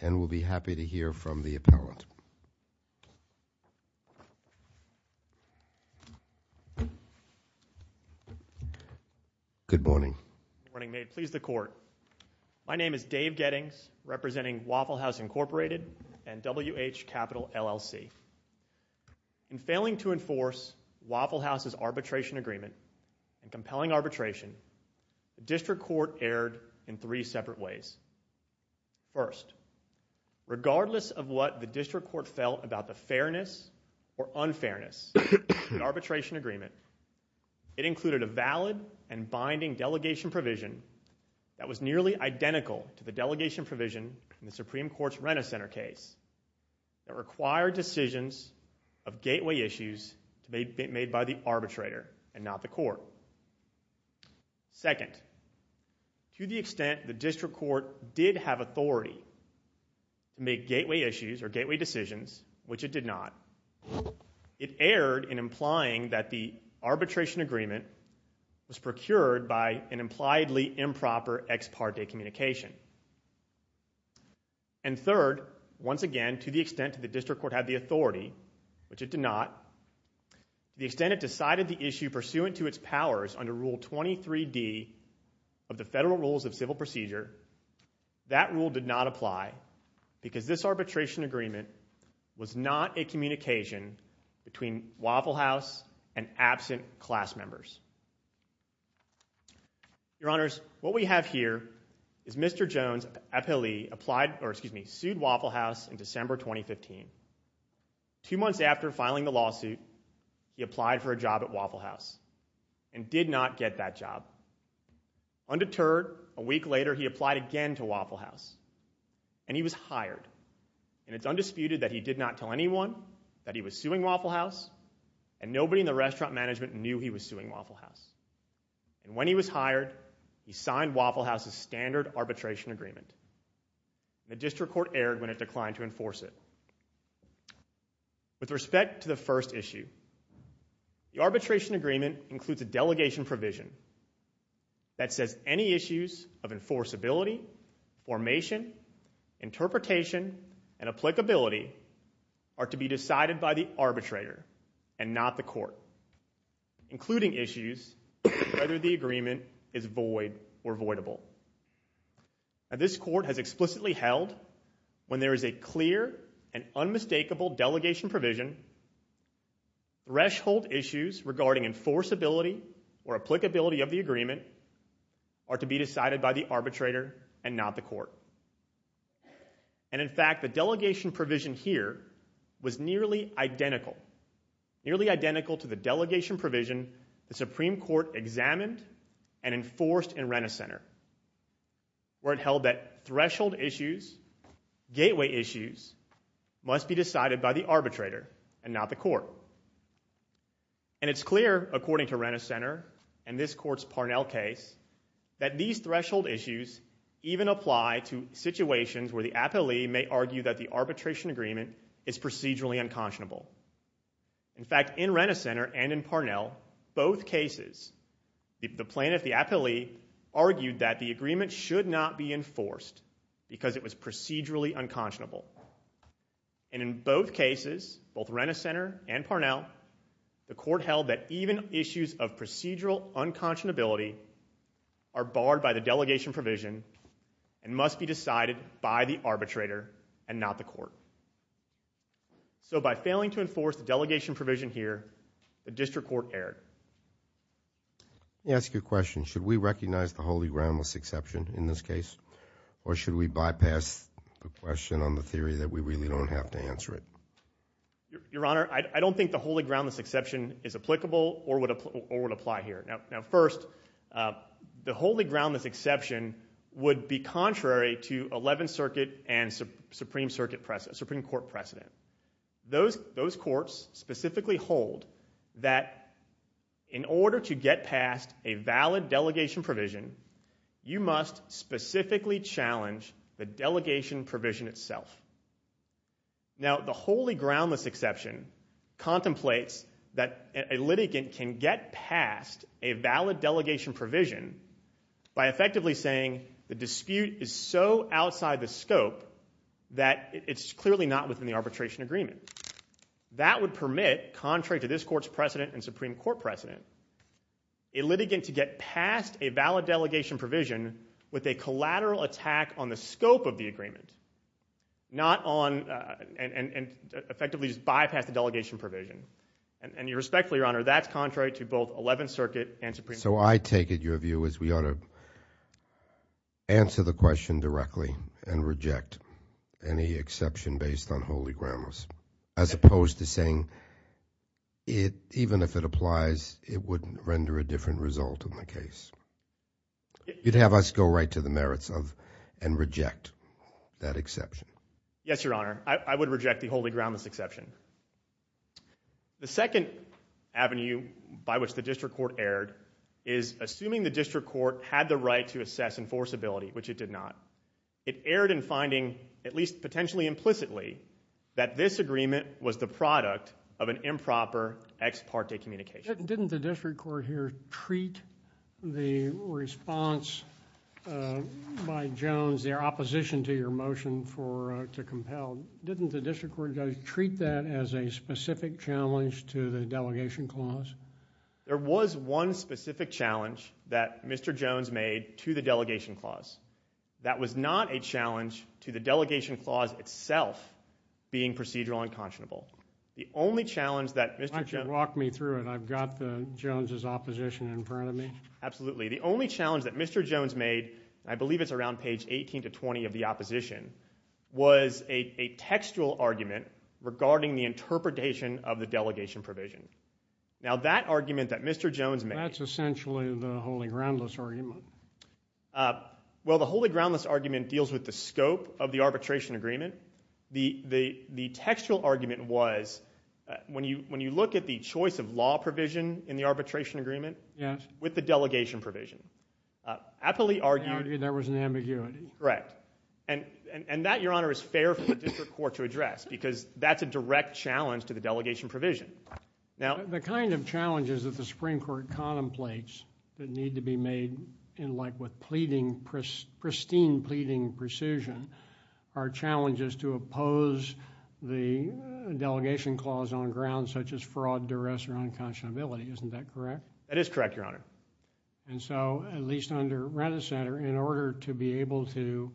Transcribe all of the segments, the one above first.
And we'll be happy to hear from the appellant. Good morning. Good morning, may it please the court. My name is Dave Gettings, representing Waffle House, Incorporated and WH Capital, LLC. In failing to enforce Waffle House's arbitration agreement and compelling arbitration, the district court erred in three separate ways. First, regardless of what the district court felt about the fairness or unfairness of the arbitration agreement, it included a valid and binding delegation provision that was nearly identical to the delegation provision in the Supreme Court's Renner Center case that required decisions of gateway issues made by the arbitrator and not the court. Second, to the extent the district court did have authority to make gateway issues or gateway decisions, which it did not, it erred in implying that the arbitration agreement was procured by an impliedly improper ex parte communication. And third, once again, to the extent that the district court had the authority, which it did not, to the extent it decided the issue pursuant to its powers under Rule 23D of the Federal Rules of Civil Procedure, that rule did not apply because this arbitration agreement was not a communication between Waffle House and absent class members. Your Honors, what we have here is Mr. Two months after filing the lawsuit, he applied for a job at Waffle House and did not get that job. Undeterred, a week later, he applied again to Waffle House, and he was hired. And it's undisputed that he did not tell anyone that he was suing Waffle House, and nobody in the restaurant management knew he was suing Waffle House. And when he was hired, he signed Waffle House's standard arbitration agreement. The district court erred when it declined to enforce it. With respect to the first issue, the arbitration agreement includes a delegation provision that says any issues of enforceability, formation, interpretation, and applicability are to be decided by the arbitrator and not the court, including issues whether the agreement is void or voidable. Now this court has explicitly held when there is a clear and clear provision, threshold issues regarding enforceability or applicability of the agreement are to be decided by the arbitrator and not the court. And in fact, the delegation provision here was nearly identical, nearly identical to the delegation provision the Supreme Court examined and enforced in Rena Center, where it held that threshold issues, gateway issues, must be decided by the arbitrator and not the court. And it's clear, according to Rena Center and this court's Parnell case, that these threshold issues even apply to situations where the appellee may argue that the arbitration agreement is procedurally unconscionable. In fact, in Rena Center and in Parnell, both cases, the plaintiff, the appellee, argued that the agreement should not be enforced, because it was procedurally unconscionable. And in both cases, both Rena Center and Parnell, the court held that even issues of procedural unconscionability are barred by the delegation provision and must be decided by the arbitrator and not the court. So by failing to enforce the delegation provision here, the district court erred. Let me ask you a question. Should we recognize the holy groundless exception in this case, or should we bypass the question on the theory that we really don't have to answer it? Your Honor, I don't think the holy groundless exception is applicable or would apply here. Now first, the holy groundless exception would be contrary to 11th Circuit and Supreme Court precedent. Those courts specifically hold that in order to get past a valid delegation provision, you must specifically challenge the delegation provision itself. Now the holy groundless exception contemplates that a litigant can get past a valid delegation provision by effectively saying the dispute is so that would permit, contrary to this court's precedent and Supreme Court precedent, a litigant to get past a valid delegation provision with a collateral attack on the scope of the agreement, and effectively just bypass the delegation provision. And respectfully, Your Honor, that's contrary to both 11th Circuit and Supreme Court. So I take it your view is we ought to answer the question directly and holy groundless, as opposed to saying even if it applies, it wouldn't render a different result in the case. You'd have us go right to the merits of and reject that exception. Yes, Your Honor. I would reject the holy groundless exception. The second avenue by which the district court erred is assuming the district court had the right to assess enforceability, which it did not. It erred in finding, at least potentially implicitly, that this agreement was the product of an improper ex parte communication. Didn't the district court here treat the response by Jones, their opposition to your motion to compel, didn't the district court treat that as a specific challenge to the delegation clause? There was one specific challenge that Mr. Jones made to the delegation clause. That was not a challenge to the delegation clause itself being procedural and conscionable. The only challenge that- Why don't you walk me through it? I've got the Jones's opposition in front of me. Absolutely. The only challenge that Mr. Jones made, I believe it's around page 18 to 20 of the opposition, was a textual argument regarding the interpretation of the delegation provision. Now that argument that Mr. Jones made- That's essentially the holy groundless argument. Well, the holy groundless argument deals with the scope of the arbitration agreement. The textual argument was, when you look at the choice of law provision in the arbitration agreement with the delegation provision, aptly argued- Argued there was an ambiguity. Correct. And that, your honor, is fair for the district court to address because that's a direct challenge to the delegation provision. Now- The kind of challenges that the Supreme Court contemplates that need to be made in like with pristine pleading precision are challenges to oppose the delegation clause on grounds such as fraud, duress, or unconscionability. Isn't that correct? That is correct, your honor. And so, at least under Retta Center, in order to be able to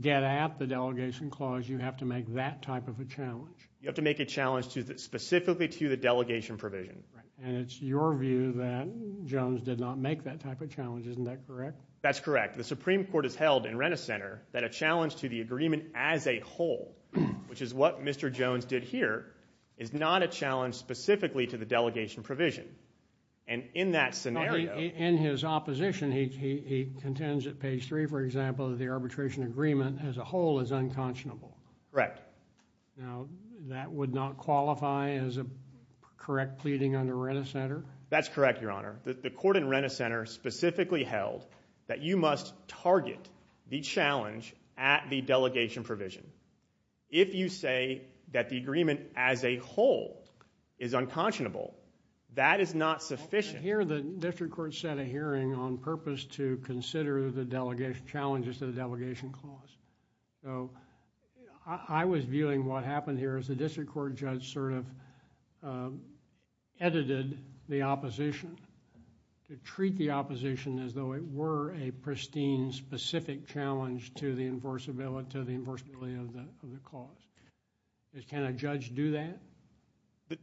get at the delegation clause, you have to make that type of a challenge. You have to make a challenge specifically to the delegation provision. And it's your view that Jones did not make that type of challenge. Isn't that correct? That's correct. The Supreme Court has held in Retta Center that a challenge to the agreement as a whole, which is what Mr. Jones did here, is not a challenge specifically to the delegation provision. And in that scenario- In his opposition, he contends at page three, for example, that the arbitration agreement as a whole is unconscionable. Correct. Now, that would not qualify as a correct pleading under Retta Center? That's correct, your honor. The court in Retta Center specifically held that you must target the challenge at the delegation provision. If you say that the agreement as a whole is unconscionable, that is not sufficient. Here, the district court set a hearing on purpose to consider the delegation, challenges to the delegation clause. So, I was viewing what happened here as the district court judge sort of edited the opposition to treat the opposition as though it were a pristine, specific challenge to the enforceability of the clause. Can a judge do that?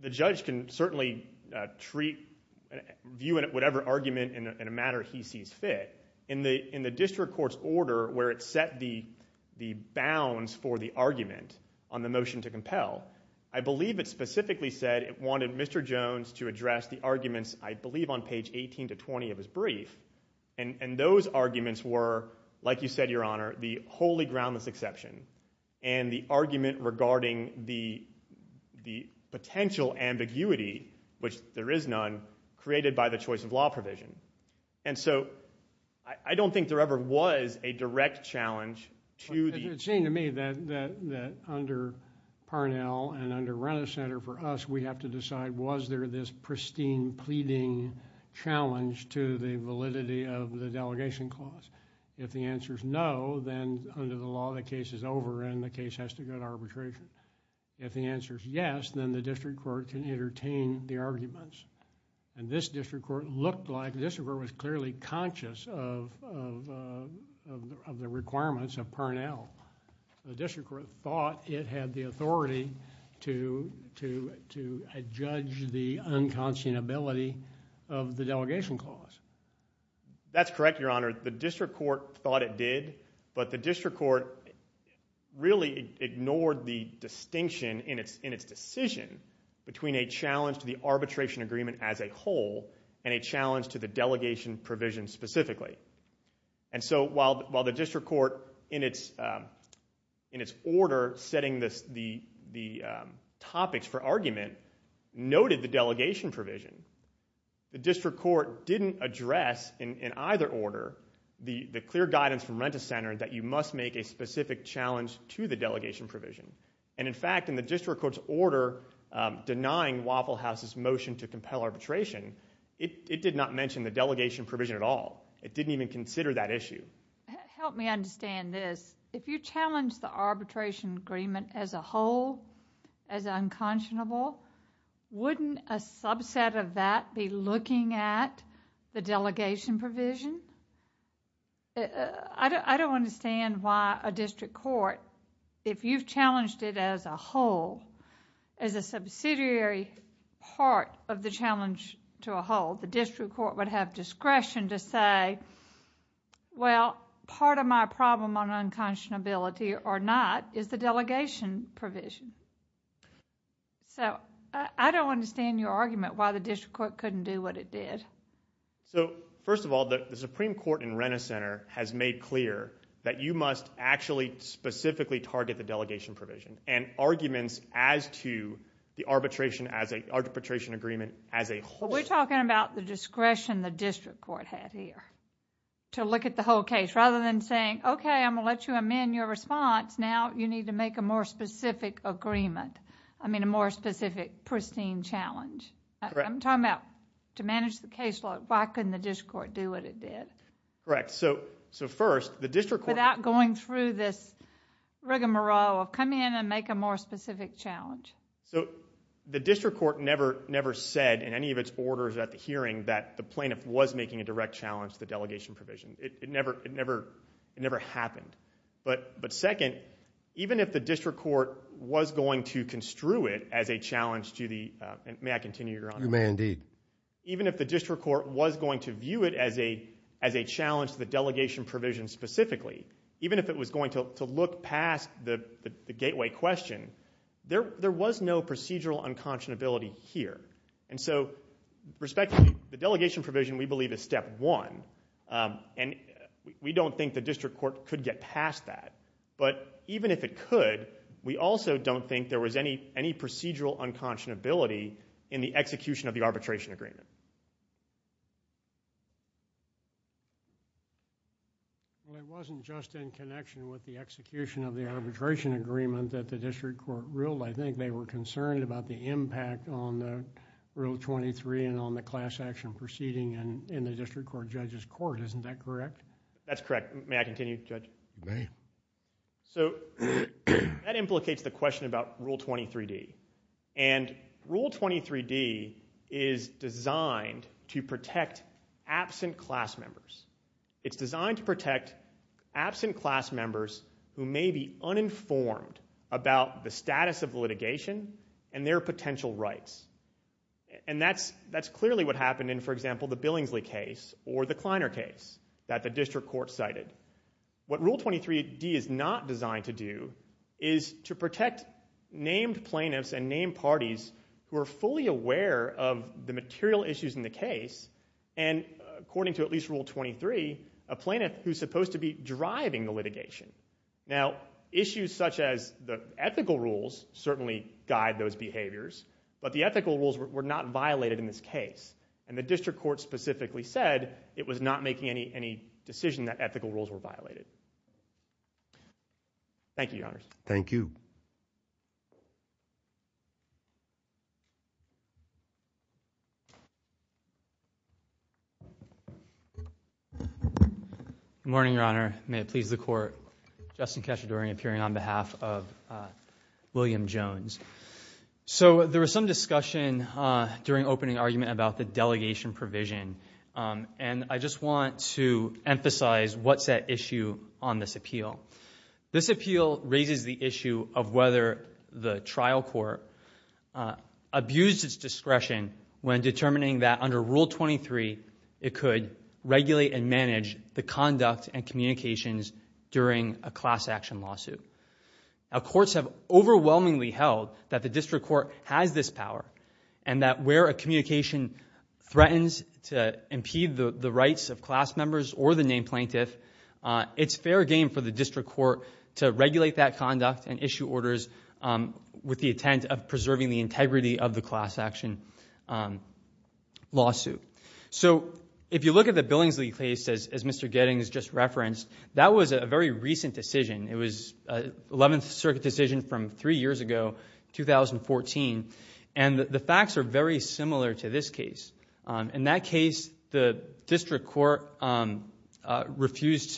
The judge can certainly view whatever argument in a matter he sees fit. In the district court's order, where it set the bounds for the argument on the motion to compel, I believe it specifically said it wanted Mr. Jones to address the arguments, I believe on page 18 to 20 of his brief. And those arguments were, like you said, your honor, the wholly groundless exception. And the argument regarding the potential ambiguity, which there is none, created by the choice of law provision. And so, I don't think there ever was a direct challenge to the- It seemed to me that under Parnell and under Renner Center, for us, we have to decide, was there this pristine pleading challenge to the validity of the delegation clause? If the answer's no, then under the law, the case is over and the case has to go to arbitration. If the answer's yes, then the district court can entertain the arguments. And this district court looked like, the district court was clearly conscious of the requirements of Parnell. The district court thought it had the authority to judge the unconscionability of the delegation clause. That's correct, your honor. The district court thought it did, but the district court really ignored the distinction in its decision between a challenge to the arbitration agreement as a whole and a challenge to the delegation provision specifically. And so, while the district court, in its order, setting the topics for argument, noted the delegation provision. The district court didn't address, in either order, the clear guidance from And in fact, in the district court's order denying Waffle House's motion to compel arbitration, it did not mention the delegation provision at all. It didn't even consider that issue. Help me understand this. If you challenge the arbitration agreement as a whole, as unconscionable, wouldn't a subset of that be looking at the delegation provision? I don't understand why a district court, if you've challenged it as a whole, as a subsidiary part of the challenge to a whole, the district court would have discretion to say, well, part of my problem on unconscionability or not is the delegation provision. So, I don't understand your argument why the district court couldn't do what it did. So, first of all, the Supreme Court in Renner Center has made clear that you must actually specifically target the delegation provision and arguments as to the arbitration agreement as a whole. But we're talking about the discretion the district court had here, to look at the whole case. Rather than saying, okay, I'm going to let you amend your response, now you need to make a more specific agreement. I mean, a more specific, pristine challenge. I'm talking about to manage the case law, why couldn't the district court do what it did? Correct, so first, the district court- Without going through this rigmarole of come in and make a more specific challenge. So, the district court never said in any of its orders at the hearing that the plaintiff was making a direct challenge to the delegation provision. It never happened. But second, even if the district court was going to construe it as a challenge to the, may I continue, Your Honor? You may, indeed. Even if the district court was going to view it as a challenge to the delegation provision specifically, even if it was going to look past the gateway question, there was no procedural unconscionability here. And so, respectively, the delegation provision, we believe, is step one. And we don't think the district court could get past that. But even if it could, we also don't think there was any procedural unconscionability in the execution of the arbitration agreement. Well, it wasn't just in connection with the execution of the arbitration agreement that the district court ruled. I think they were concerned about the impact on the Rule 23 and on the class action proceeding in the district court judge's court. Isn't that correct? That's correct. May I continue, Judge? You may. So, that implicates the question about Rule 23D. And Rule 23D is designed to protect absent class members. It's designed to protect absent class members who may be uninformed about the status of litigation and their potential rights. And that's clearly what happened in, for example, the Billingsley case or the Kleiner case that the district court cited. What Rule 23D is not designed to do is to protect named plaintiffs and named parties who are fully aware of the material issues in the case. And according to at least Rule 23, a plaintiff who's supposed to be driving the litigation. Now, issues such as the ethical rules certainly guide those behaviors. But the ethical rules were not violated in this case. And the district court specifically said it was not making any decision that ethical rules were violated. Thank you, Your Honor. Thank you. Good morning, Your Honor. May it please the court. Justin Cachedori appearing on behalf of William Jones. So, there was some discussion during opening argument about the delegation provision. And I just want to emphasize what's at issue on this appeal. This appeal raises the issue of whether the trial court abused its discretion when determining that under Rule 23, it could regulate and manage the conduct and communications during a class action lawsuit. Now, courts have overwhelmingly held that the district court has this power and that where a communication threatens to impede the rights of class members or the named plaintiff, it's fair game for the district court to regulate that conduct and issue orders with the intent of preserving the integrity of the class action lawsuit. So, if you look at the Billingsley case, as Mr. Gettings just referenced, that was a very recent decision. It was 11th Circuit decision from three years ago, 2014. And the facts are very similar to this case. In that case, the district court refused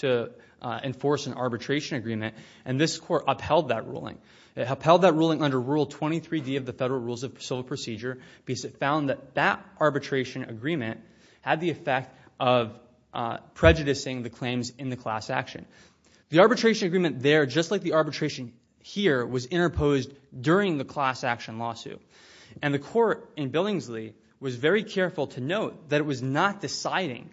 to enforce an arbitration agreement. And this court upheld that ruling. It upheld that ruling under Rule 23D of the Federal Rules of Civil Procedure because it found that that arbitration agreement had the effect of prejudicing the claims in the class action. The arbitration agreement there, just like the arbitration here, was interposed during the class action lawsuit. And the court in Billingsley was very careful to note that it was not deciding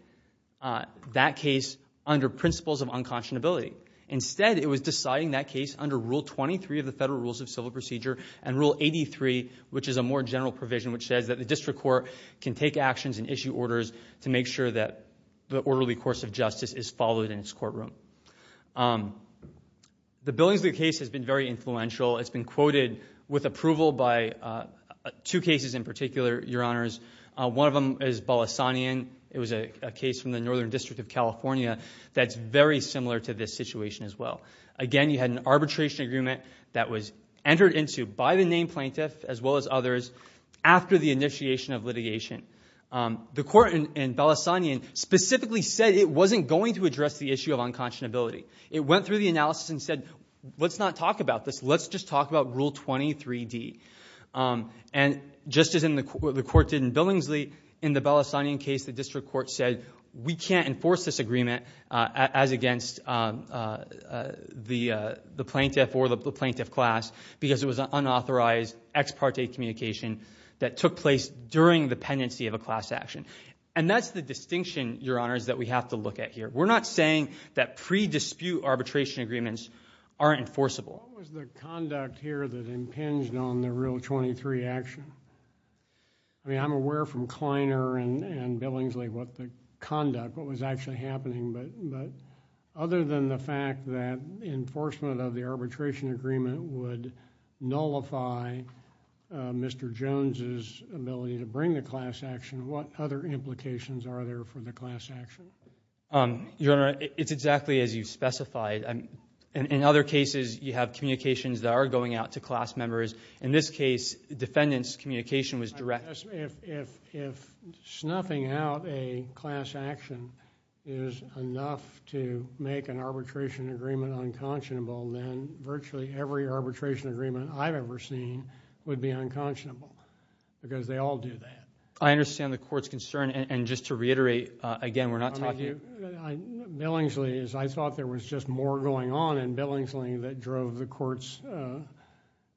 that case under principles of unconscionability. Instead, it was deciding that case under Rule 23 of the Federal Rules of Civil Procedure and Rule 83, which is a more general provision, which says that the district court can take actions and issue orders to make sure that the orderly course of justice is followed in its courtroom. The Billingsley case has been very influential. It's been quoted with approval by two cases in particular, Your Honors. One of them is Balassanian. It was a case from the Northern District of California that's very similar to this situation as well. Again, you had an arbitration agreement that was entered into by the named plaintiff, as well as others, after the initiation of litigation. The court in Balassanian specifically said it wasn't going to address the issue of unconscionability. It went through the analysis and said, let's not talk about this. Let's just talk about Rule 23D. And just as the court did in Billingsley, in the Balassanian case, the district court said, we can't enforce this agreement as against the plaintiff or the plaintiff class because it was an unauthorized ex parte communication that took place during the pendency of a class action. And that's the distinction, Your Honors, that we have to look at here. We're not saying that pre-dispute arbitration agreements aren't enforceable. What was the conduct here that impinged on the Rule 23 action? I mean, I'm aware from Kleiner and Billingsley what the conduct, what was actually happening. But other than the fact that enforcement of the arbitration agreement would nullify Mr. Jones's ability to bring the class action, what other implications are there for the class action? Your Honor, it's exactly as you specified. In other cases, you have communications that are going out to class members. In this case, defendant's communication was direct. If snuffing out a class action is enough to make an arbitration agreement unconscionable, then virtually every arbitration agreement I've ever seen would be unconscionable because they all do that. I understand the court's concern. And just to reiterate, again, we're not talking about... Billingsley, I thought there was just more going on in Billingsley that drove the court's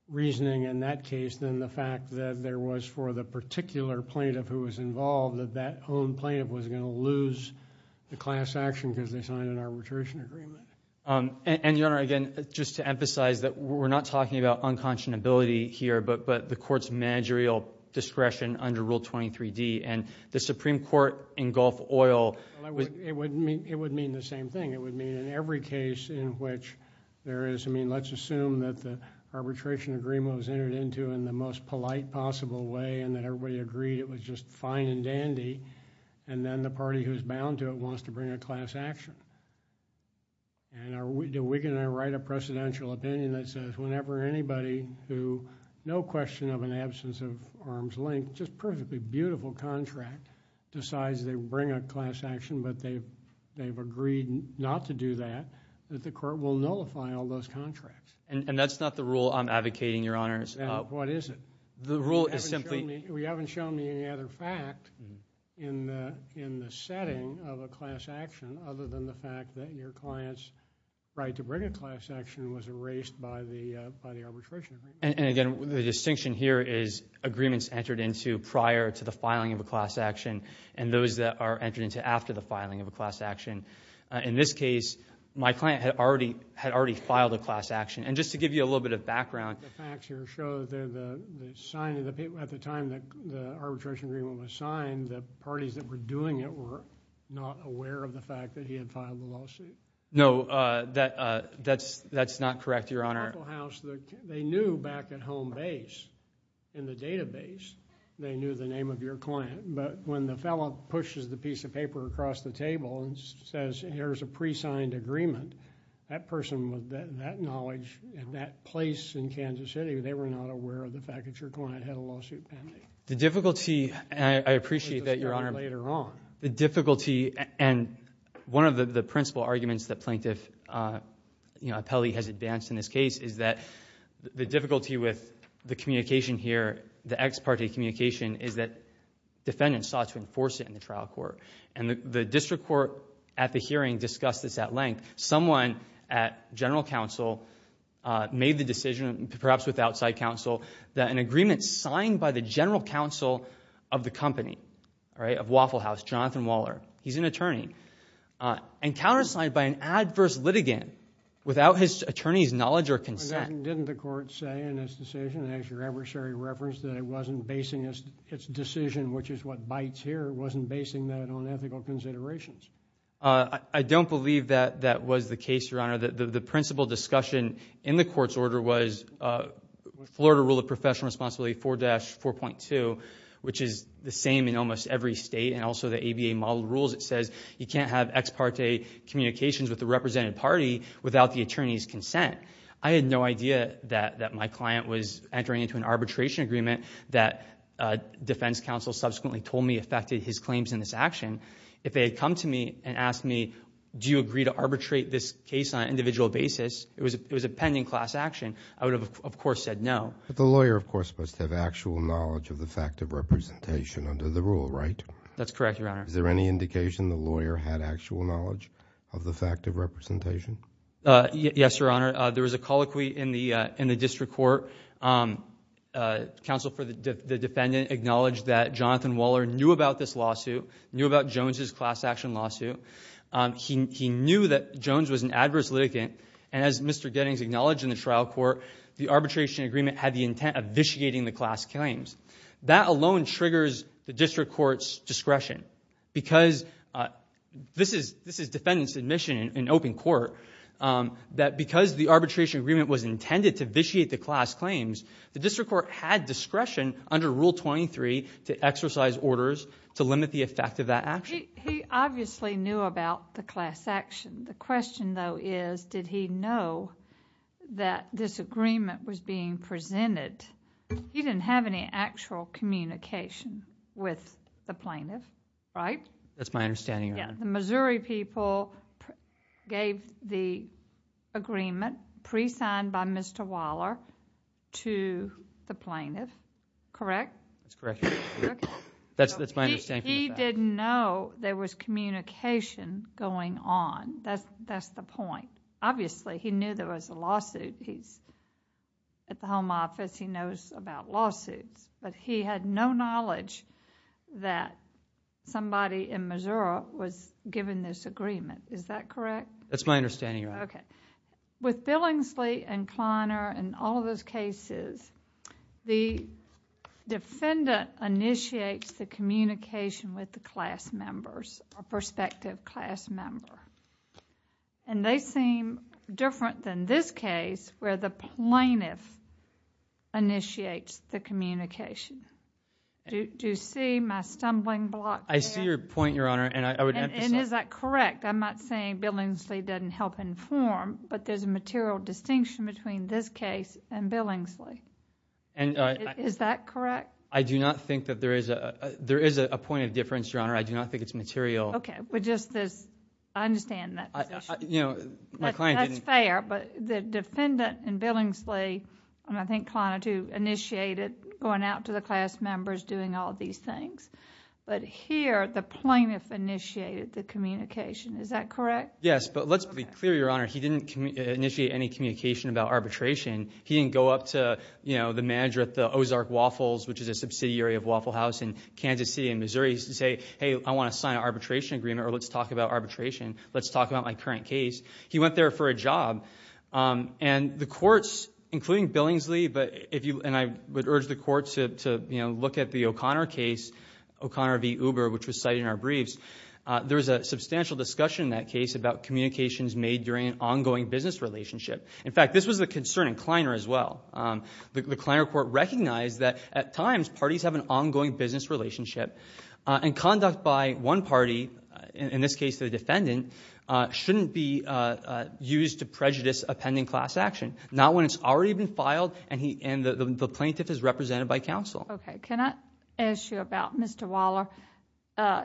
reasoning in that case than the fact that there was for the particular plaintiff who was involved, that that own plaintiff was going to lose the class action because they signed an arbitration agreement. And Your Honor, again, just to emphasize that we're not talking about unconscionability here, but the court's managerial discretion under Rule 23D and the Supreme Court in Gulf Oil... It would mean the same thing. It would mean in every case in which there is... I mean, let's assume that the arbitration agreement was entered into in the most polite possible way and that everybody agreed it was just fine and dandy, and then the party who's bound to it wants to bring a class action. And are we going to write a presidential opinion that says whenever anybody who, no question of an absence of arm's length, just perfectly beautiful contract, decides they bring a class action but they've agreed not to do that, that the court will nullify all those contracts? And that's not the rule I'm advocating, Your Honors. What is it? The rule is simply... You haven't shown me any other fact in the setting of a class action other than the fact that your client's right to bring a class action was erased by the arbitration agreement. And, again, the distinction here is agreements entered into prior to the filing of a class action and those that are entered into after the filing of a class action. In this case, my client had already filed a class action. And just to give you a little bit of background... The facts here show that at the time the arbitration agreement was signed, the parties that were doing it were not aware of the fact that he had filed the lawsuit. No. That's not correct, Your Honor. In the local house, they knew back at home base, in the database, they knew the name of your client. But when the fellow pushes the piece of paper across the table and says, here's a pre-signed agreement, that person with that knowledge in that place in Kansas City, they were not aware of the fact that your client had a lawsuit pending. The difficulty... And I appreciate that, Your Honor. We'll discuss that later on. The difficulty... And one of the principal arguments that Plaintiff Apelli has advanced in this case is that the difficulty with the communication here, the ex parte communication, is that defendants sought to enforce it in the trial court. The district court at the hearing discussed this at length. Someone at general counsel made the decision, perhaps with outside counsel, that an agreement signed by the general counsel of the company, of Waffle House, Jonathan Waller. He's an attorney. And countersigned by an adverse litigant, without his attorney's knowledge or consent... Didn't the court say in this decision, as your adversary referenced, that it wasn't basing its decision, which is what bites here, it wasn't basing that on ethical considerations? I don't believe that that was the case, Your Honor. The principal discussion in the court's order was Florida Rule of Professional Responsibility 4-4.2, which is the same in almost every state, and also the ABA model rules. It says you can't have ex parte communications with the represented party without the attorney's consent. I had no idea that my client was entering into an arbitration agreement that defense counsel subsequently told me affected his claims in this action. If they had come to me and asked me, do you agree to arbitrate this case on an individual basis, it was a pending class action, I would have, of course, said no. The lawyer, of course, must have actual knowledge of the fact of representation under the rule, right? That's correct, Your Honor. Is there any indication the lawyer had actual knowledge of the fact of representation? Yes, Your Honor. There was a colloquy in the district court. Counsel for the defendant acknowledged that Jonathan Waller knew about this lawsuit, knew about Jones' class action lawsuit. He knew that Jones was an adverse litigant, and as Mr. Gettings acknowledged in the trial court, the arbitration agreement had the intent of vitiating the class claims. That alone triggers the district court's discretion because... this is defendant's admission in open court, that because the arbitration agreement was intended to vitiate the class claims, the district court had discretion under Rule 23 to exercise orders to limit the effect of that action. He obviously knew about the class action. The question, though, is did he know that this agreement was being presented? He didn't have any actual communication with the plaintiff, right? That's my understanding, Your Honor. Yes. The Missouri people gave the agreement, pre-signed by Mr. Waller, to the plaintiff, correct? That's correct, Your Honor. Okay. That's my understanding of that. He didn't know there was communication going on. That's the point. Obviously, he knew there was a lawsuit. He's at the home office. He knows about lawsuits, but he had no knowledge that somebody in Missouri was giving this agreement. Is that correct? That's my understanding, Your Honor. Okay. With Billingsley and Kleiner and all those cases, the defendant initiates the communication with the class members, a prospective class member. They seem different than this case where the plaintiff initiates the communication. Do you see my stumbling block there? I see your point, Your Honor. I would emphasize... Is that correct? I'm not saying Billingsley doesn't help inform, but there's a material distinction between this case and Billingsley. Is that correct? I do not think that there is a point of difference, Your Honor. I do not think it's material. Okay. I understand that position. My client didn't... That's fair, but the defendant in Billingsley, and I think Kleiner, too, initiated going out to the class members, doing all these things, but here, the plaintiff initiated the communication. Is that correct? Yes, but let's be clear, Your Honor. He didn't initiate any communication about arbitration. He didn't go up to the manager at the Ozark Waffles, which is a subsidiary of Waffle House in Kansas City and Missouri to say, hey, I want to sign an arbitration agreement, or let's talk about arbitration. Let's talk about my current case. He went there for a job, and the courts, including Billingsley, and I would urge the courts to look at the O'Connor case, O'Connor v. Uber, which was cited in our briefs. There was a substantial discussion in that case about communications made during an ongoing business relationship. In fact, this was a concern in Kleiner, as well. The Kleiner court recognized that, at times, parties have an ongoing business relationship, and conduct by one party, in this case, the defendant, shouldn't be used to prejudice a pending class action, not when it's already been filed and the plaintiff is represented by counsel. Okay. Can I ask you about Mr. Waller?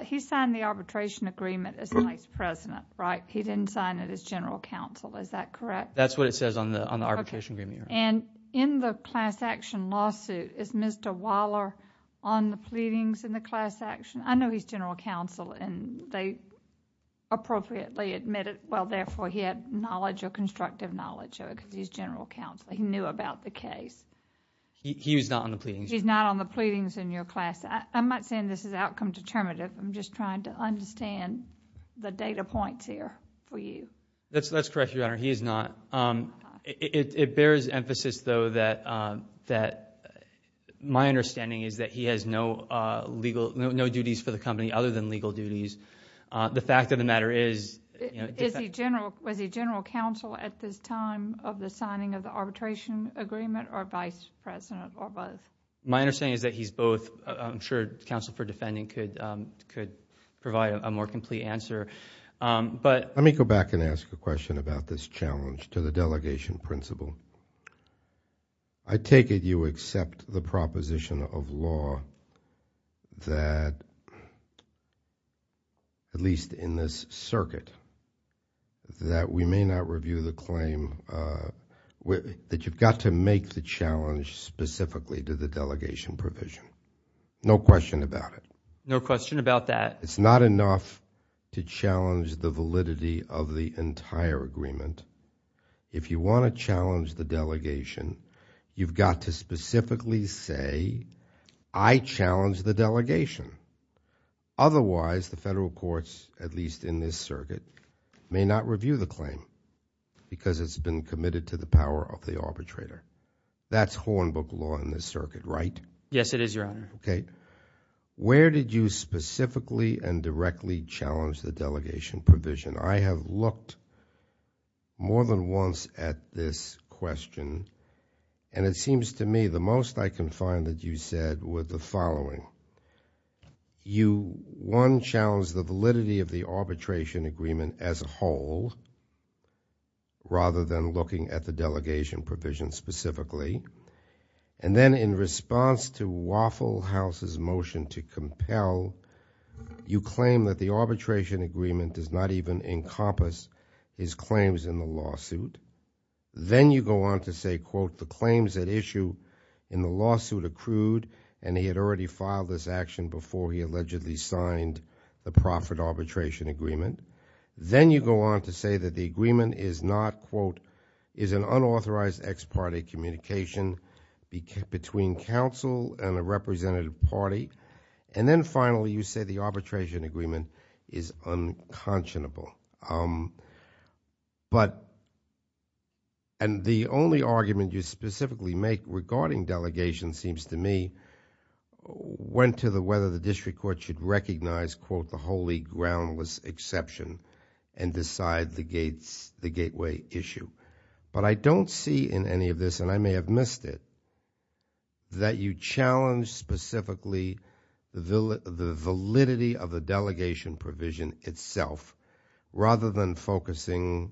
He signed the arbitration agreement as vice president, right? He didn't sign it as general counsel. Is that correct? That's what it says on the arbitration agreement, Your Honor. In the class action lawsuit, is Mr. Waller on the pleadings in the class action? I know he's general counsel, and they appropriately admit it. Well, therefore, he had knowledge or constructive knowledge of it, because he's general counsel. He knew about the case. He was not on the pleadings. He's not on the pleadings in your class. I'm not saying this is outcome determinative. I'm just trying to understand the data points here for you. That's correct, Your Honor. He is not. It bears emphasis, though, that my understanding is that he has no duties for the company, other than legal duties. The fact of the matter is... Was he general counsel at this time of the signing of the arbitration agreement or vice president or both? My understanding is that he's both. I'm sure counsel for defending could provide a more complete answer, but... To the delegation principal, I take it you accept the proposition of law that, at least in this circuit, that we may not review the claim... that you've got to make the challenge specifically to the delegation provision. No question about it. No question about that. It's not enough to challenge the validity of the entire agreement. If you want to challenge the delegation, you've got to specifically say, I challenge the delegation. Otherwise, the federal courts, at least in this circuit, may not review the claim because it's been committed to the power of the arbitrator. That's Hornbook law in this circuit, right? Yes, it is, Your Honor. Okay. Where did you specifically and directly challenge the delegation provision? I have looked more than once at this question, and it seems to me the most I can find that you said were the following. You one, challenged the validity of the arbitration agreement as a whole, rather than looking at the delegation provision specifically. And then in response to Waffle House's motion to compel, you claim that the arbitration agreement does not even encompass his claims in the lawsuit. Then you go on to say, quote, the claims at issue in the lawsuit accrued, and he had already filed this action before he allegedly signed the profit arbitration agreement. Then you go on to say that the agreement is not, quote, is an unauthorized ex-party communication between counsel and a representative party. And then finally, you say the arbitration agreement is unconscionable. But and the only argument you specifically make regarding delegation seems to me went to the whether the district court should recognize, quote, the holy groundless exception and decide the gateway issue. But I don't see in any of this, and I may have missed it, that you challenge specifically the validity of the delegation provision itself, rather than focusing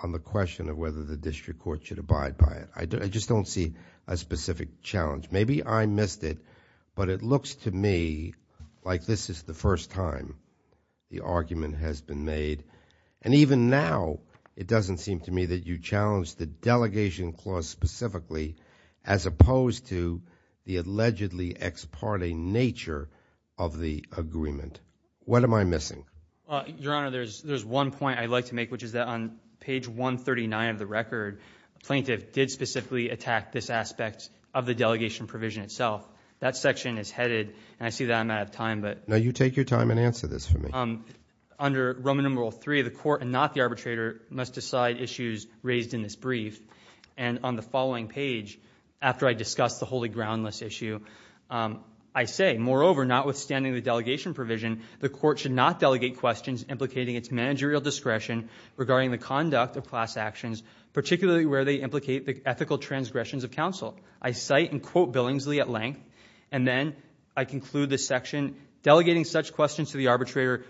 on the question of whether the district court should abide by it. I just don't see a specific challenge. Maybe I missed it, but it looks to me like this is the first time the argument has been made. And even now, it doesn't seem to me that you challenge the delegation clause specifically, as opposed to the allegedly ex-party nature of the agreement. What am I missing? Your Honor, there's one point I'd like to make, which is that on page 139 of the record, a plaintiff did specifically attack this aspect of the delegation provision itself. That section is headed, and I see that I'm out of time, but. Now you take your time and answer this for me. Under Roman numeral three, the court and not the arbitrator must decide issues raised in this brief. And on the following page, after I discuss the holy groundless issue, I say, moreover, notwithstanding the delegation provision, the court should not delegate questions implicating its managerial discretion regarding the conduct of class actions, particularly where they implicate the ethical transgressions of counsel. I cite and quote Billingsley at length, and then I conclude this section, delegating such questions to the arbitrator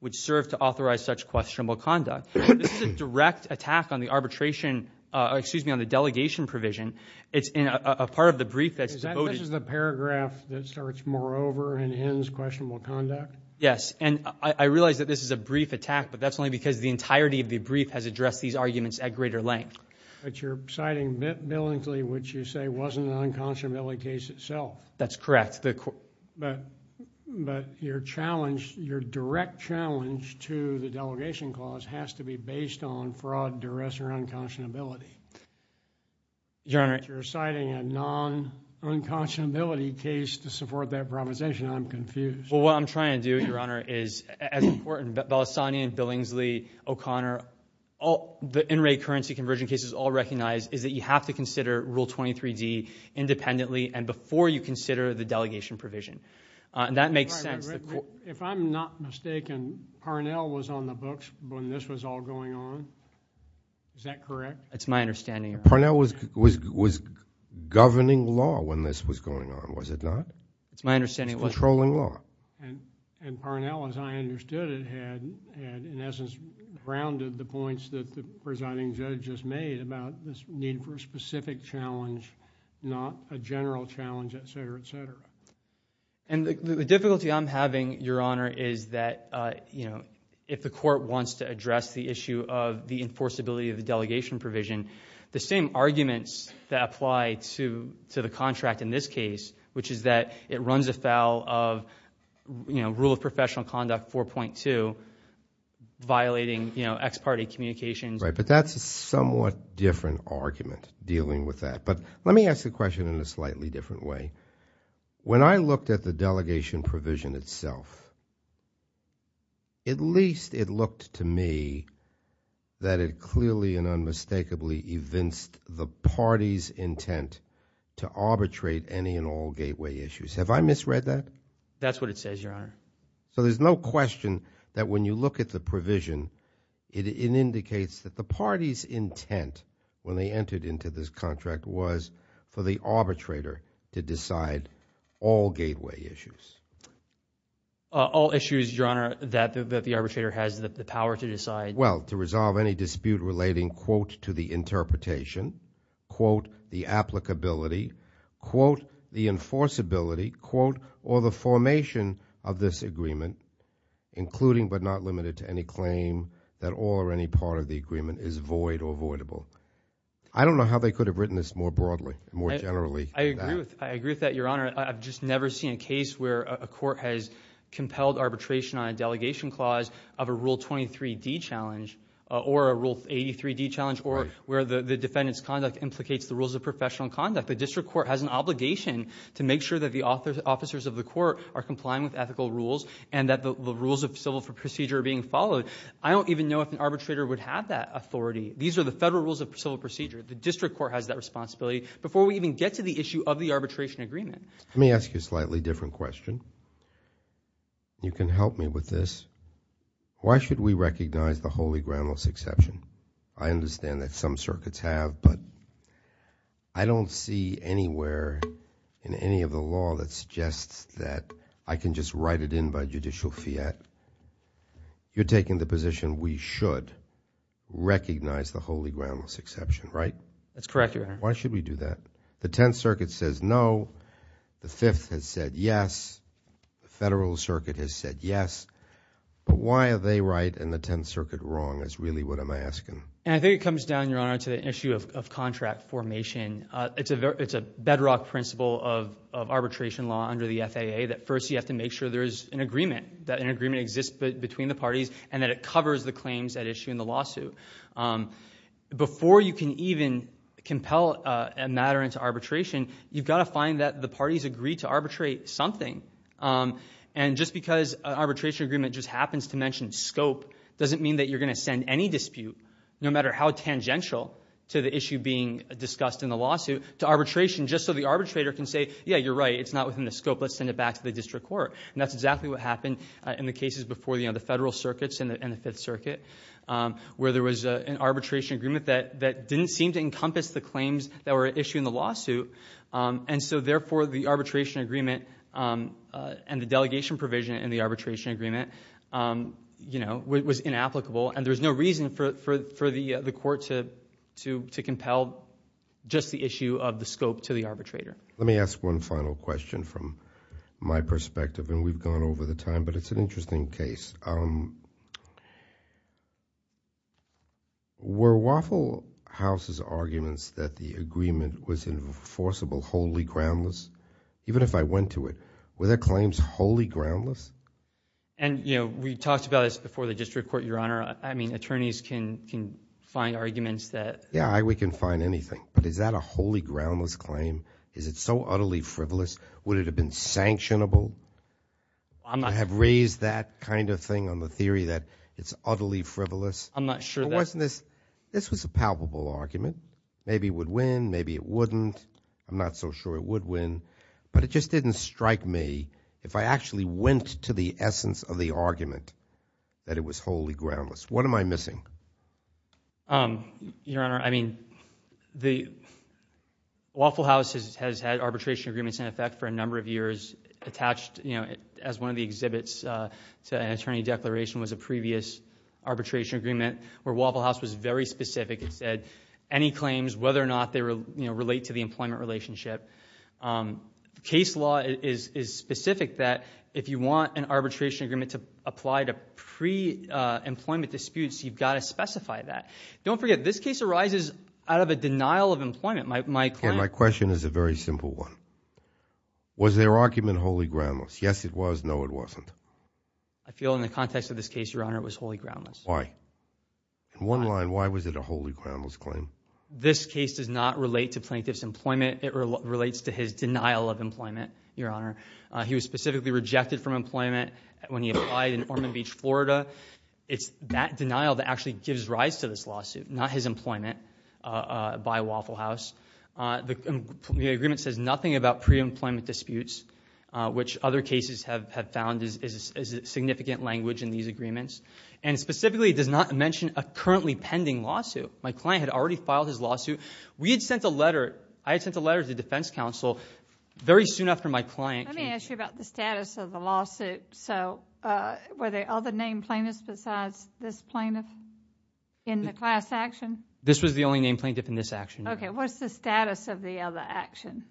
would serve to authorize such questionable conduct. This is a direct attack on the arbitration, excuse me, on the delegation provision. It's in a part of the brief that's voted. Is that such as the paragraph that starts, moreover, and ends questionable conduct? Yes. And I realize that this is a brief attack, but that's only because the entirety of the brief has addressed these arguments at greater length. But you're citing Billingsley, which you say wasn't an unconscionability case itself. That's correct. But your challenge, your direct challenge to the delegation clause has to be based on fraud, duress, or unconscionability. Your Honor. But you're citing a non-unconscionability case to support that provision. I'm confused. Well, what I'm trying to do, Your Honor, is, as important, Balassani and Billingsley, O'Connor, the in-rate currency conversion cases all recognize is that you have to consider Rule 23D independently and before you consider the delegation provision. That makes sense. If I'm not mistaken, Parnell was on the books when this was all going on, is that correct? It's my understanding, Your Honor. Parnell was governing law when this was going on, was it not? It's my understanding. It's controlling law. And Parnell, as I understood it, had, in essence, grounded the points that the presiding judge just made about this need for a specific challenge, not a general challenge, et cetera, et cetera. And the difficulty I'm having, Your Honor, is that if the court wants to address the issue of the enforceability of the delegation provision, the same arguments that apply to the contract in this case, which is that it runs afoul of, you know, Rule of Professional Conduct 4.2, violating, you know, ex-party communications. Right. But that's a somewhat different argument, dealing with that. But let me ask the question in a slightly different way. When I looked at the delegation provision itself, at least it looked to me that it clearly and unmistakably evinced the party's intent to arbitrate any and all gateway issues. Have I misread that? That's what it says, Your Honor. So there's no question that when you look at the provision, it indicates that the party's intent when they entered into this contract was for the arbitrator to decide all gateway issues. All issues, Your Honor, that the arbitrator has the power to decide. Well, to resolve any dispute relating, quote, to the interpretation, quote, the applicability, quote, the enforceability, quote, or the formation of this agreement, including but not limited to any claim that all or any part of the agreement is void or voidable. I don't know how they could have written this more broadly, more generally. I agree with that, Your Honor. I've just never seen a case where a court has compelled arbitration on a delegation clause of a Rule 23D challenge or a Rule 83D challenge or where the defendant's conduct implicates the rules of professional conduct. The district court has an obligation to make sure that the officers of the court are complying with ethical rules and that the rules of civil procedure are being followed. I don't even know if an arbitrator would have that authority. These are the federal rules of civil procedure. The district court has that responsibility before we even get to the issue of the arbitration agreement. Let me ask you a slightly different question. You can help me with this. Why should we recognize the holy groundless exception? I understand that some circuits have, but I don't see anywhere in any of the law that suggests that I can just write it in by judicial fiat. You're taking the position we should recognize the holy groundless exception, right? That's correct, Your Honor. Why should we do that? The Tenth Circuit says no. The Fifth has said yes. The Federal Circuit has said yes. But why are they right and the Tenth Circuit wrong is really what I'm asking. I think it comes down, Your Honor, to the issue of contract formation. It's a bedrock principle of arbitration law under the FAA that first you have to make sure there is an agreement, that an agreement exists between the parties and that it covers the claims at issue in the lawsuit. Before you can even compel a matter into arbitration, you've got to find that the parties agree to arbitrate something. Just because an arbitration agreement just happens to mention scope doesn't mean that you're going to send any dispute, no matter how tangential to the issue being discussed in the lawsuit, to arbitration just so the arbitrator can say, yeah, you're right. It's not within the scope. Let's send it back to the district court. That's exactly what happened in the cases before the Federal Circuits and the Fifth Circuit, where there was an arbitration agreement that didn't seem to encompass the claims that were at issue in the lawsuit. And so, therefore, the arbitration agreement and the delegation provision in the arbitration agreement was inapplicable and there was no reason for the court to compel just the issue of the scope to the arbitrator. Let me ask one final question from my perspective, and we've gone over the time, but it's an Were Waffle House's arguments that the agreement was enforceable wholly groundless? Even if I went to it, were their claims wholly groundless? And you know, we talked about this before the district court, Your Honor. I mean, attorneys can find arguments that Yeah, we can find anything, but is that a wholly groundless claim? Is it so utterly frivolous? Would it have been sanctionable? I have raised that kind of thing on the theory that it's utterly frivolous. I'm not sure that This was a palpable argument. Maybe it would win. Maybe it wouldn't. I'm not so sure it would win, but it just didn't strike me if I actually went to the essence of the argument that it was wholly groundless. What am I missing? Your Honor, I mean, the Waffle House has had arbitration agreements in effect for a number of years attached, you know, as one of the exhibits to an attorney declaration was a previous arbitration agreement where Waffle House was very specific and said any claims, whether or not they relate to the employment relationship. Case law is specific that if you want an arbitration agreement to apply to pre-employment disputes, you've got to specify that. Don't forget, this case arises out of a denial of employment. My question My question is a very simple one. Was their argument wholly groundless? Yes, it was. No, it wasn't. I feel in the context of this case, Your Honor, it was wholly groundless. Why? In one line, why was it a wholly groundless claim? This case does not relate to plaintiff's employment. It relates to his denial of employment, Your Honor. He was specifically rejected from employment when he applied in Ormond Beach, Florida. It's that denial that actually gives rise to this lawsuit, not his employment by Waffle House. The agreement says nothing about pre-employment disputes, which other cases have found is a significant language in these agreements. And specifically, it does not mention a currently pending lawsuit. My client had already filed his lawsuit. We had sent a letter, I had sent a letter to the defense counsel very soon after my client came to me. Let me ask you about the status of the lawsuit. So were there other named plaintiffs besides this plaintiff in the class action? This was the only named plaintiff in this action, Your Honor. Okay. What's the status of the other action?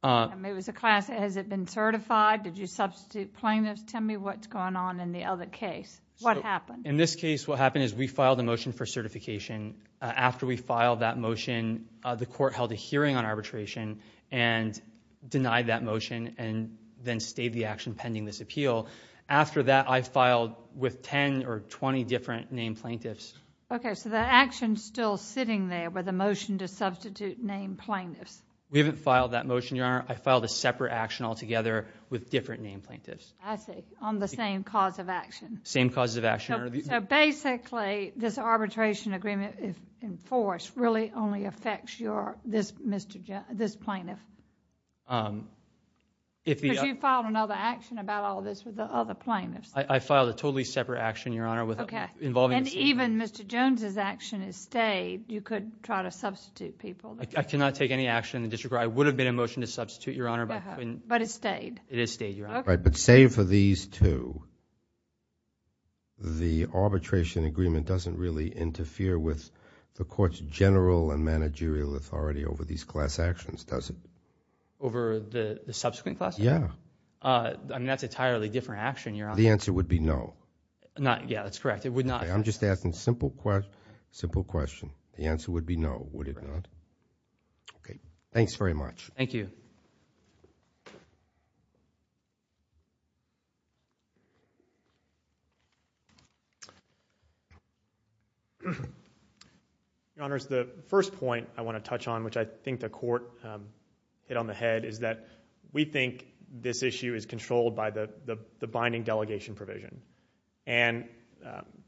I mean, was the class... has it been certified? Did you substitute plaintiffs? Tell me what's going on in the other case. What happened? In this case, what happened is we filed a motion for certification. After we filed that motion, the court held a hearing on arbitration and denied that motion and then stayed the action pending this appeal. After that, I filed with ten or twenty different named plaintiffs. Okay. So the action's still sitting there with a motion to substitute named plaintiffs. We haven't filed that motion, Your Honor. I filed a separate action altogether with different named plaintiffs. I see. On the same cause of action. Same cause of action. So basically, this arbitration agreement in force really only affects this plaintiff? Because you filed another action about all this with the other plaintiffs. I filed a totally separate action, Your Honor, involving... And even Mr. Jones's action has stayed. You could try to substitute people. I cannot take any action in the district court. I would have been in motion to substitute, Your Honor, but... But it stayed? It has stayed, Your Honor. Okay. But save for these two, the arbitration agreement doesn't really interfere with the court's general and managerial authority over these class actions, does it? Over the subsequent class action? Yeah. I mean, that's an entirely different action, Your Honor. The answer would be no. Yeah, that's correct. It would not... Okay. I'm just asking a simple question. The answer would be no, would it not? Correct. Okay. Thanks very much. Thank you. Your Honors, the first point I want to touch on, which I think the court hit on the head, is that we think this issue is controlled by the binding delegation provision. And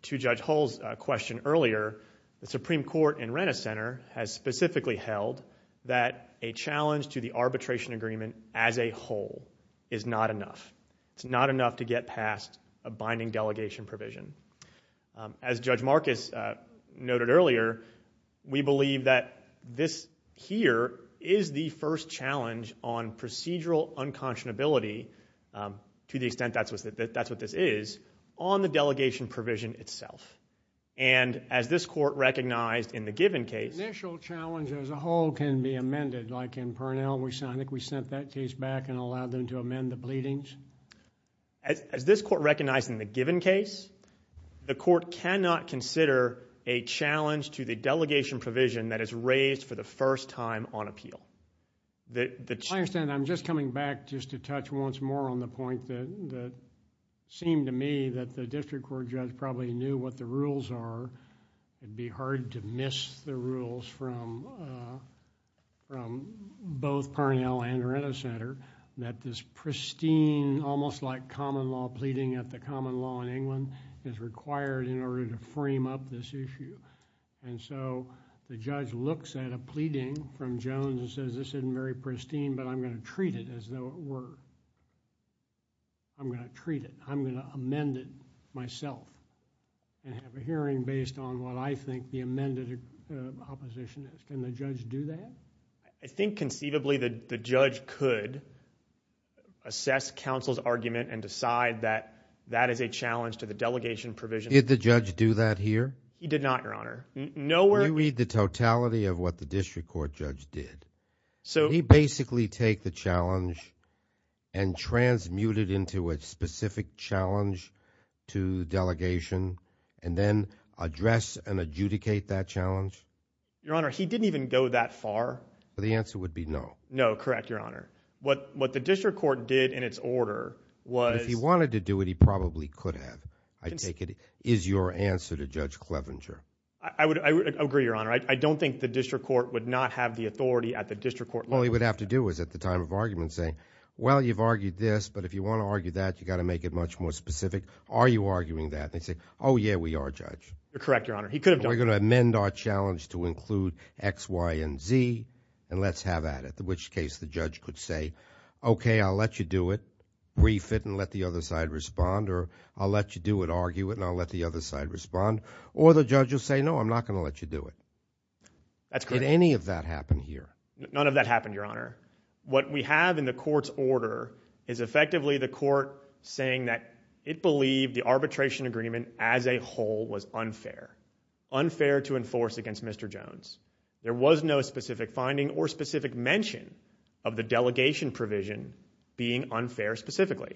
to Judge Hull's question earlier, the Supreme Court in Rennes Center has specifically held that a challenge to the arbitration agreement as a whole is not enough. It's not enough to get past a binding delegation provision. As Judge Marcus noted earlier, we believe that this here is the first challenge on procedural unconscionability, to the extent that's what this is, on the delegation provision itself. And as this court recognized in the given case... The initial challenge as a whole can be amended, like in Parnell, I think we sent that case back and allowed them to amend the pleadings. As this court recognized in the given case, the court cannot consider a challenge to the delegation provision that is raised for the first time on appeal. I understand. I'm just coming back just to touch once more on the point that seemed to me that the district court judge probably knew what the rules are. It'd be hard to miss the rules from both Parnell and Rennes Center, that this pristine, almost like common law pleading at the common law in England, is required in order to frame up this issue. And so, the judge looks at a pleading from Jones and says, this isn't very pristine, but I'm going to treat it as though it were. I'm going to treat it. I'm going to amend it myself and have a hearing based on what I think the amended opposition is. Can the judge do that? I think conceivably, the judge could assess counsel's argument and decide that that is a challenge to the delegation provision. Did the judge do that here? He did not, Your Honor. Nowhere... Can you read the totality of what the district court judge did? So... Did he basically take the challenge and transmute it into a specific challenge to delegation and then address and adjudicate that challenge? Your Honor, he didn't even go that far. The answer would be no. No, correct, Your Honor. What the district court did in its order was... If he wanted to do it, he probably could have, I take it. Is your answer to Judge Clevenger? I would agree, Your Honor. I don't think the district court would not have the authority at the district court level. All he would have to do is at the time of argument say, well, you've argued this, but if you want to argue that, you've got to make it much more specific. Are you arguing that? And they say, oh, yeah, we are, Judge. You're correct, Your Honor. He could have done that. We're going to amend our challenge to include X, Y, and Z, and let's have at it, in which case the judge could say, okay, I'll let you do it, brief it, and let the other side respond or I'll let you do it, argue it, and I'll let the other side respond. Or the judge will say, no, I'm not going to let you do it. That's correct. Did any of that happen here? None of that happened, Your Honor. What we have in the court's order is effectively the court saying that it believed the arbitration agreement as a whole was unfair, unfair to enforce against Mr. Jones. There was no specific finding or specific mention of the delegation provision being unfair specifically.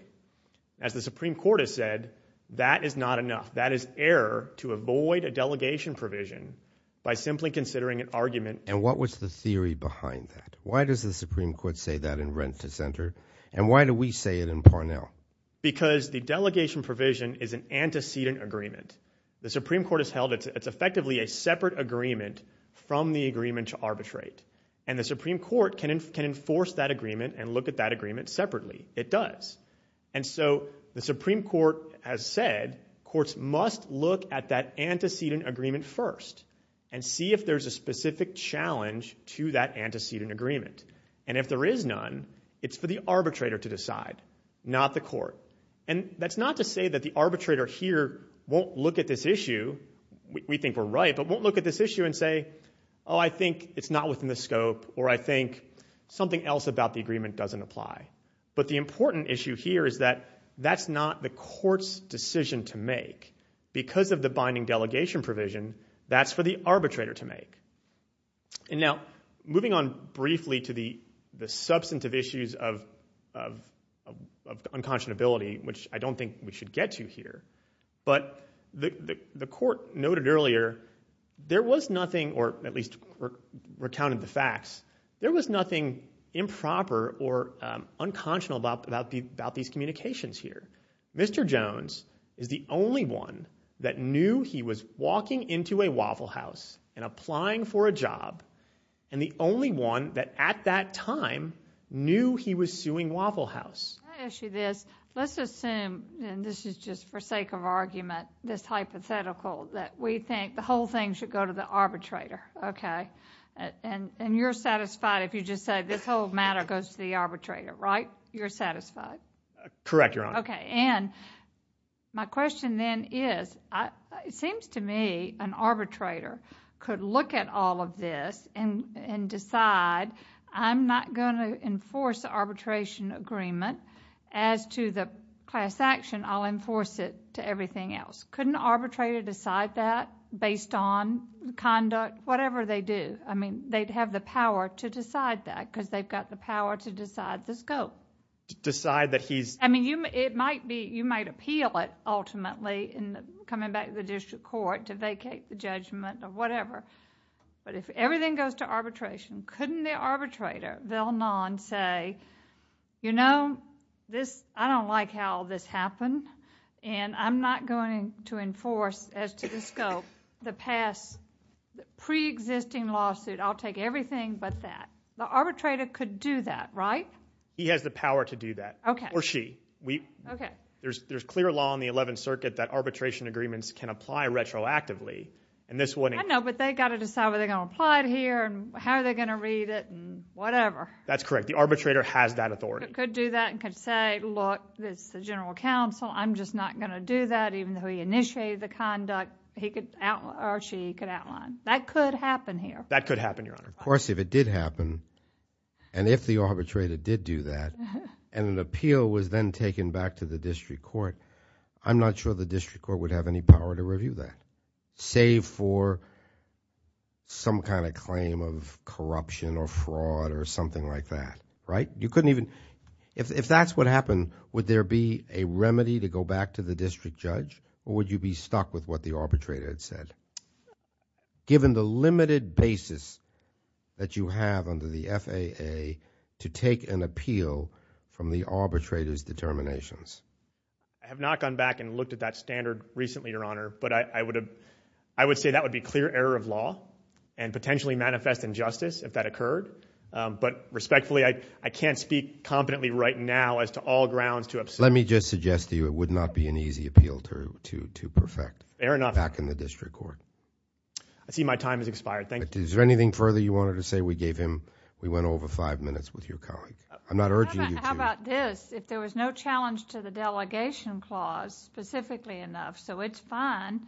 As the Supreme Court has said, that is not enough. That is error to avoid a delegation provision by simply considering an argument. And what was the theory behind that? Why does the Supreme Court say that in Rent to Center? And why do we say it in Parnell? Because the delegation provision is an antecedent agreement. The Supreme Court has held it's effectively a separate agreement from the agreement to arbitrate. And the Supreme Court can enforce that agreement and look at that agreement separately. It does. And so the Supreme Court has said courts must look at that antecedent agreement first and see if there's a specific challenge to that antecedent agreement. And if there is none, it's for the arbitrator to decide, not the court. And that's not to say that the arbitrator here won't look at this issue. We think we're right, but won't look at this issue and say, oh, I think it's not within the scope or I think something else about the agreement doesn't apply. But the important issue here is that that's not the court's decision to make. Because of the binding delegation provision, that's for the arbitrator to make. And now, moving on briefly to the substantive issues of unconscionability, which I don't think we should get to here. But the court noted earlier, there was nothing, or at least recounted the facts, there was nothing unconscionable about these communications here. Mr. Jones is the only one that knew he was walking into a Waffle House and applying for a job, and the only one that at that time knew he was suing Waffle House. I'll ask you this. Let's assume, and this is just for sake of argument, this hypothetical, that we think the whole thing should go to the arbitrator, okay? And you're satisfied if you just say this whole matter goes to the arbitrator, right? You're satisfied? Correct, Your Honor. Okay. And my question then is, it seems to me an arbitrator could look at all of this and decide, I'm not going to enforce the arbitration agreement. As to the class action, I'll enforce it to everything else. Couldn't an arbitrator decide that based on conduct, whatever they do? I mean, they'd have the power to decide that because they've got the power to decide the scope. To decide that he's... I mean, you might appeal it ultimately in coming back to the district court to vacate the judgment or whatever, but if everything goes to arbitration, couldn't the arbitrator, say, you know, I don't like how this happened, and I'm not going to enforce, as to the scope, the past pre-existing lawsuit, I'll take everything but that. The arbitrator could do that, right? He has the power to do that. Okay. Or she. Okay. There's clear law in the Eleventh Circuit that arbitration agreements can apply retroactively, and this wouldn't... I know, but they've got to decide whether they're going to apply it here, and how are they going to read it, and whatever. That's correct. The arbitrator has that authority. He could do that and could say, look, this is the general counsel, I'm just not going to do that, even though he initiated the conduct, he could... or she could outline. That could happen here. That could happen, Your Honor. Of course, if it did happen, and if the arbitrator did do that, and an appeal was then taken back to the district court, I'm not sure the district court would have any power to review that, save for some kind of claim of corruption or fraud or something like that, right? You couldn't even... if that's what happened, would there be a remedy to go back to the district judge, or would you be stuck with what the arbitrator had said, given the limited basis that you have under the FAA to take an appeal from the arbitrator's determinations? I have not gone back and looked at that standard recently, Your Honor, but I would say that would be clear error of law, and potentially manifest injustice if that occurred. But respectfully, I can't speak competently right now as to all grounds to... Let me just suggest to you, it would not be an easy appeal to perfect back in the district court. Fair enough. I see my time has expired. Thank you. Is there anything further you wanted to say? We gave him... we went over five minutes with your colleague. I'm not urging you to. How about this? If there was no challenge to the delegation clause, specifically enough, so it's fine,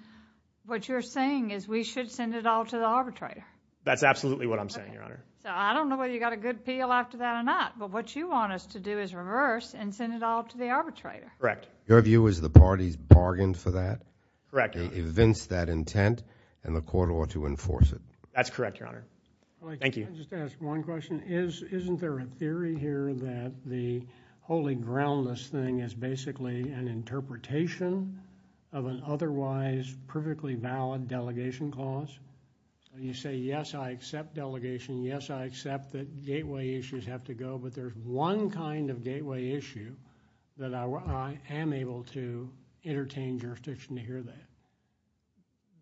what you're saying is we should send it all to the arbitrator? That's absolutely what I'm saying, Your Honor. Okay. So, I don't know whether you got a good appeal after that or not, but what you want us to do is reverse and send it all to the arbitrator. Correct. Your view is the parties bargained for that? Correct. They evinced that intent, and the court ought to enforce it. That's correct, Your Honor. Thank you. I just want to ask one question. Isn't there a theory here that the holy groundless thing is basically an interpretation of an otherwise perfectly valid delegation clause? You say, yes, I accept delegation, yes, I accept that gateway issues have to go, but there's one kind of gateway issue that I am able to entertain jurisdiction to hear that.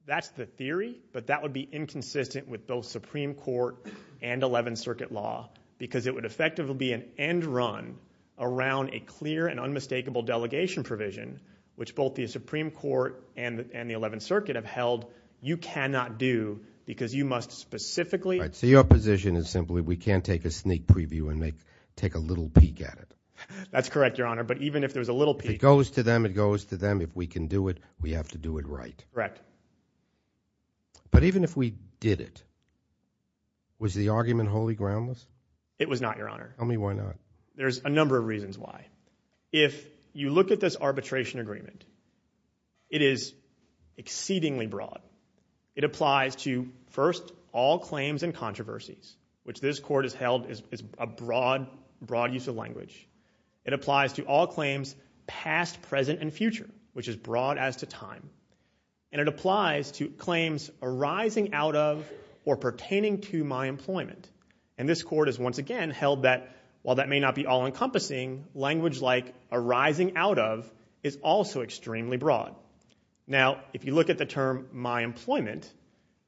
That's the theory, but that would be inconsistent with both Supreme Court and 11th Circuit law, because it would effectively be an end run around a clear and unmistakable delegation provision, which both the Supreme Court and the 11th Circuit have held you cannot do, because you must specifically. All right, so your position is simply we can't take a sneak preview and take a little peek at it? That's correct, Your Honor, but even if there's a little peek. It goes to them. It goes to them. It goes to them. If we can do it, we have to do it right. Correct. But even if we did it, was the argument wholly groundless? It was not, Your Honor. Tell me why not. There's a number of reasons why. If you look at this arbitration agreement, it is exceedingly broad. It applies to, first, all claims and controversies, which this court has held is a broad, broad use of language. It applies to all claims past, present, and future, which is broad as to time. And it applies to claims arising out of or pertaining to my employment. And this court has, once again, held that while that may not be all-encompassing, language like arising out of is also extremely broad. Now, if you look at the term my employment,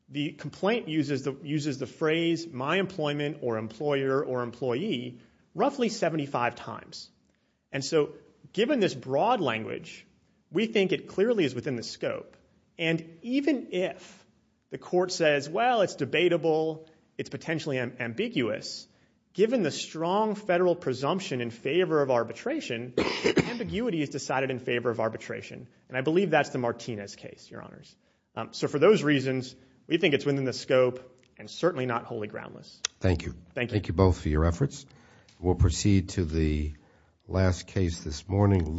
the complaint uses the phrase my employment or employer or employee roughly 75 times. And so given this broad language, we think it clearly is within the scope. And even if the court says, well, it's debatable, it's potentially ambiguous, given the strong federal presumption in favor of arbitration, ambiguity is decided in favor of arbitration. And I believe that's the Martinez case, Your Honors. So for those reasons, we think it's within the scope and certainly not wholly groundless. Thank you both for your efforts. We'll proceed to the last case this morning.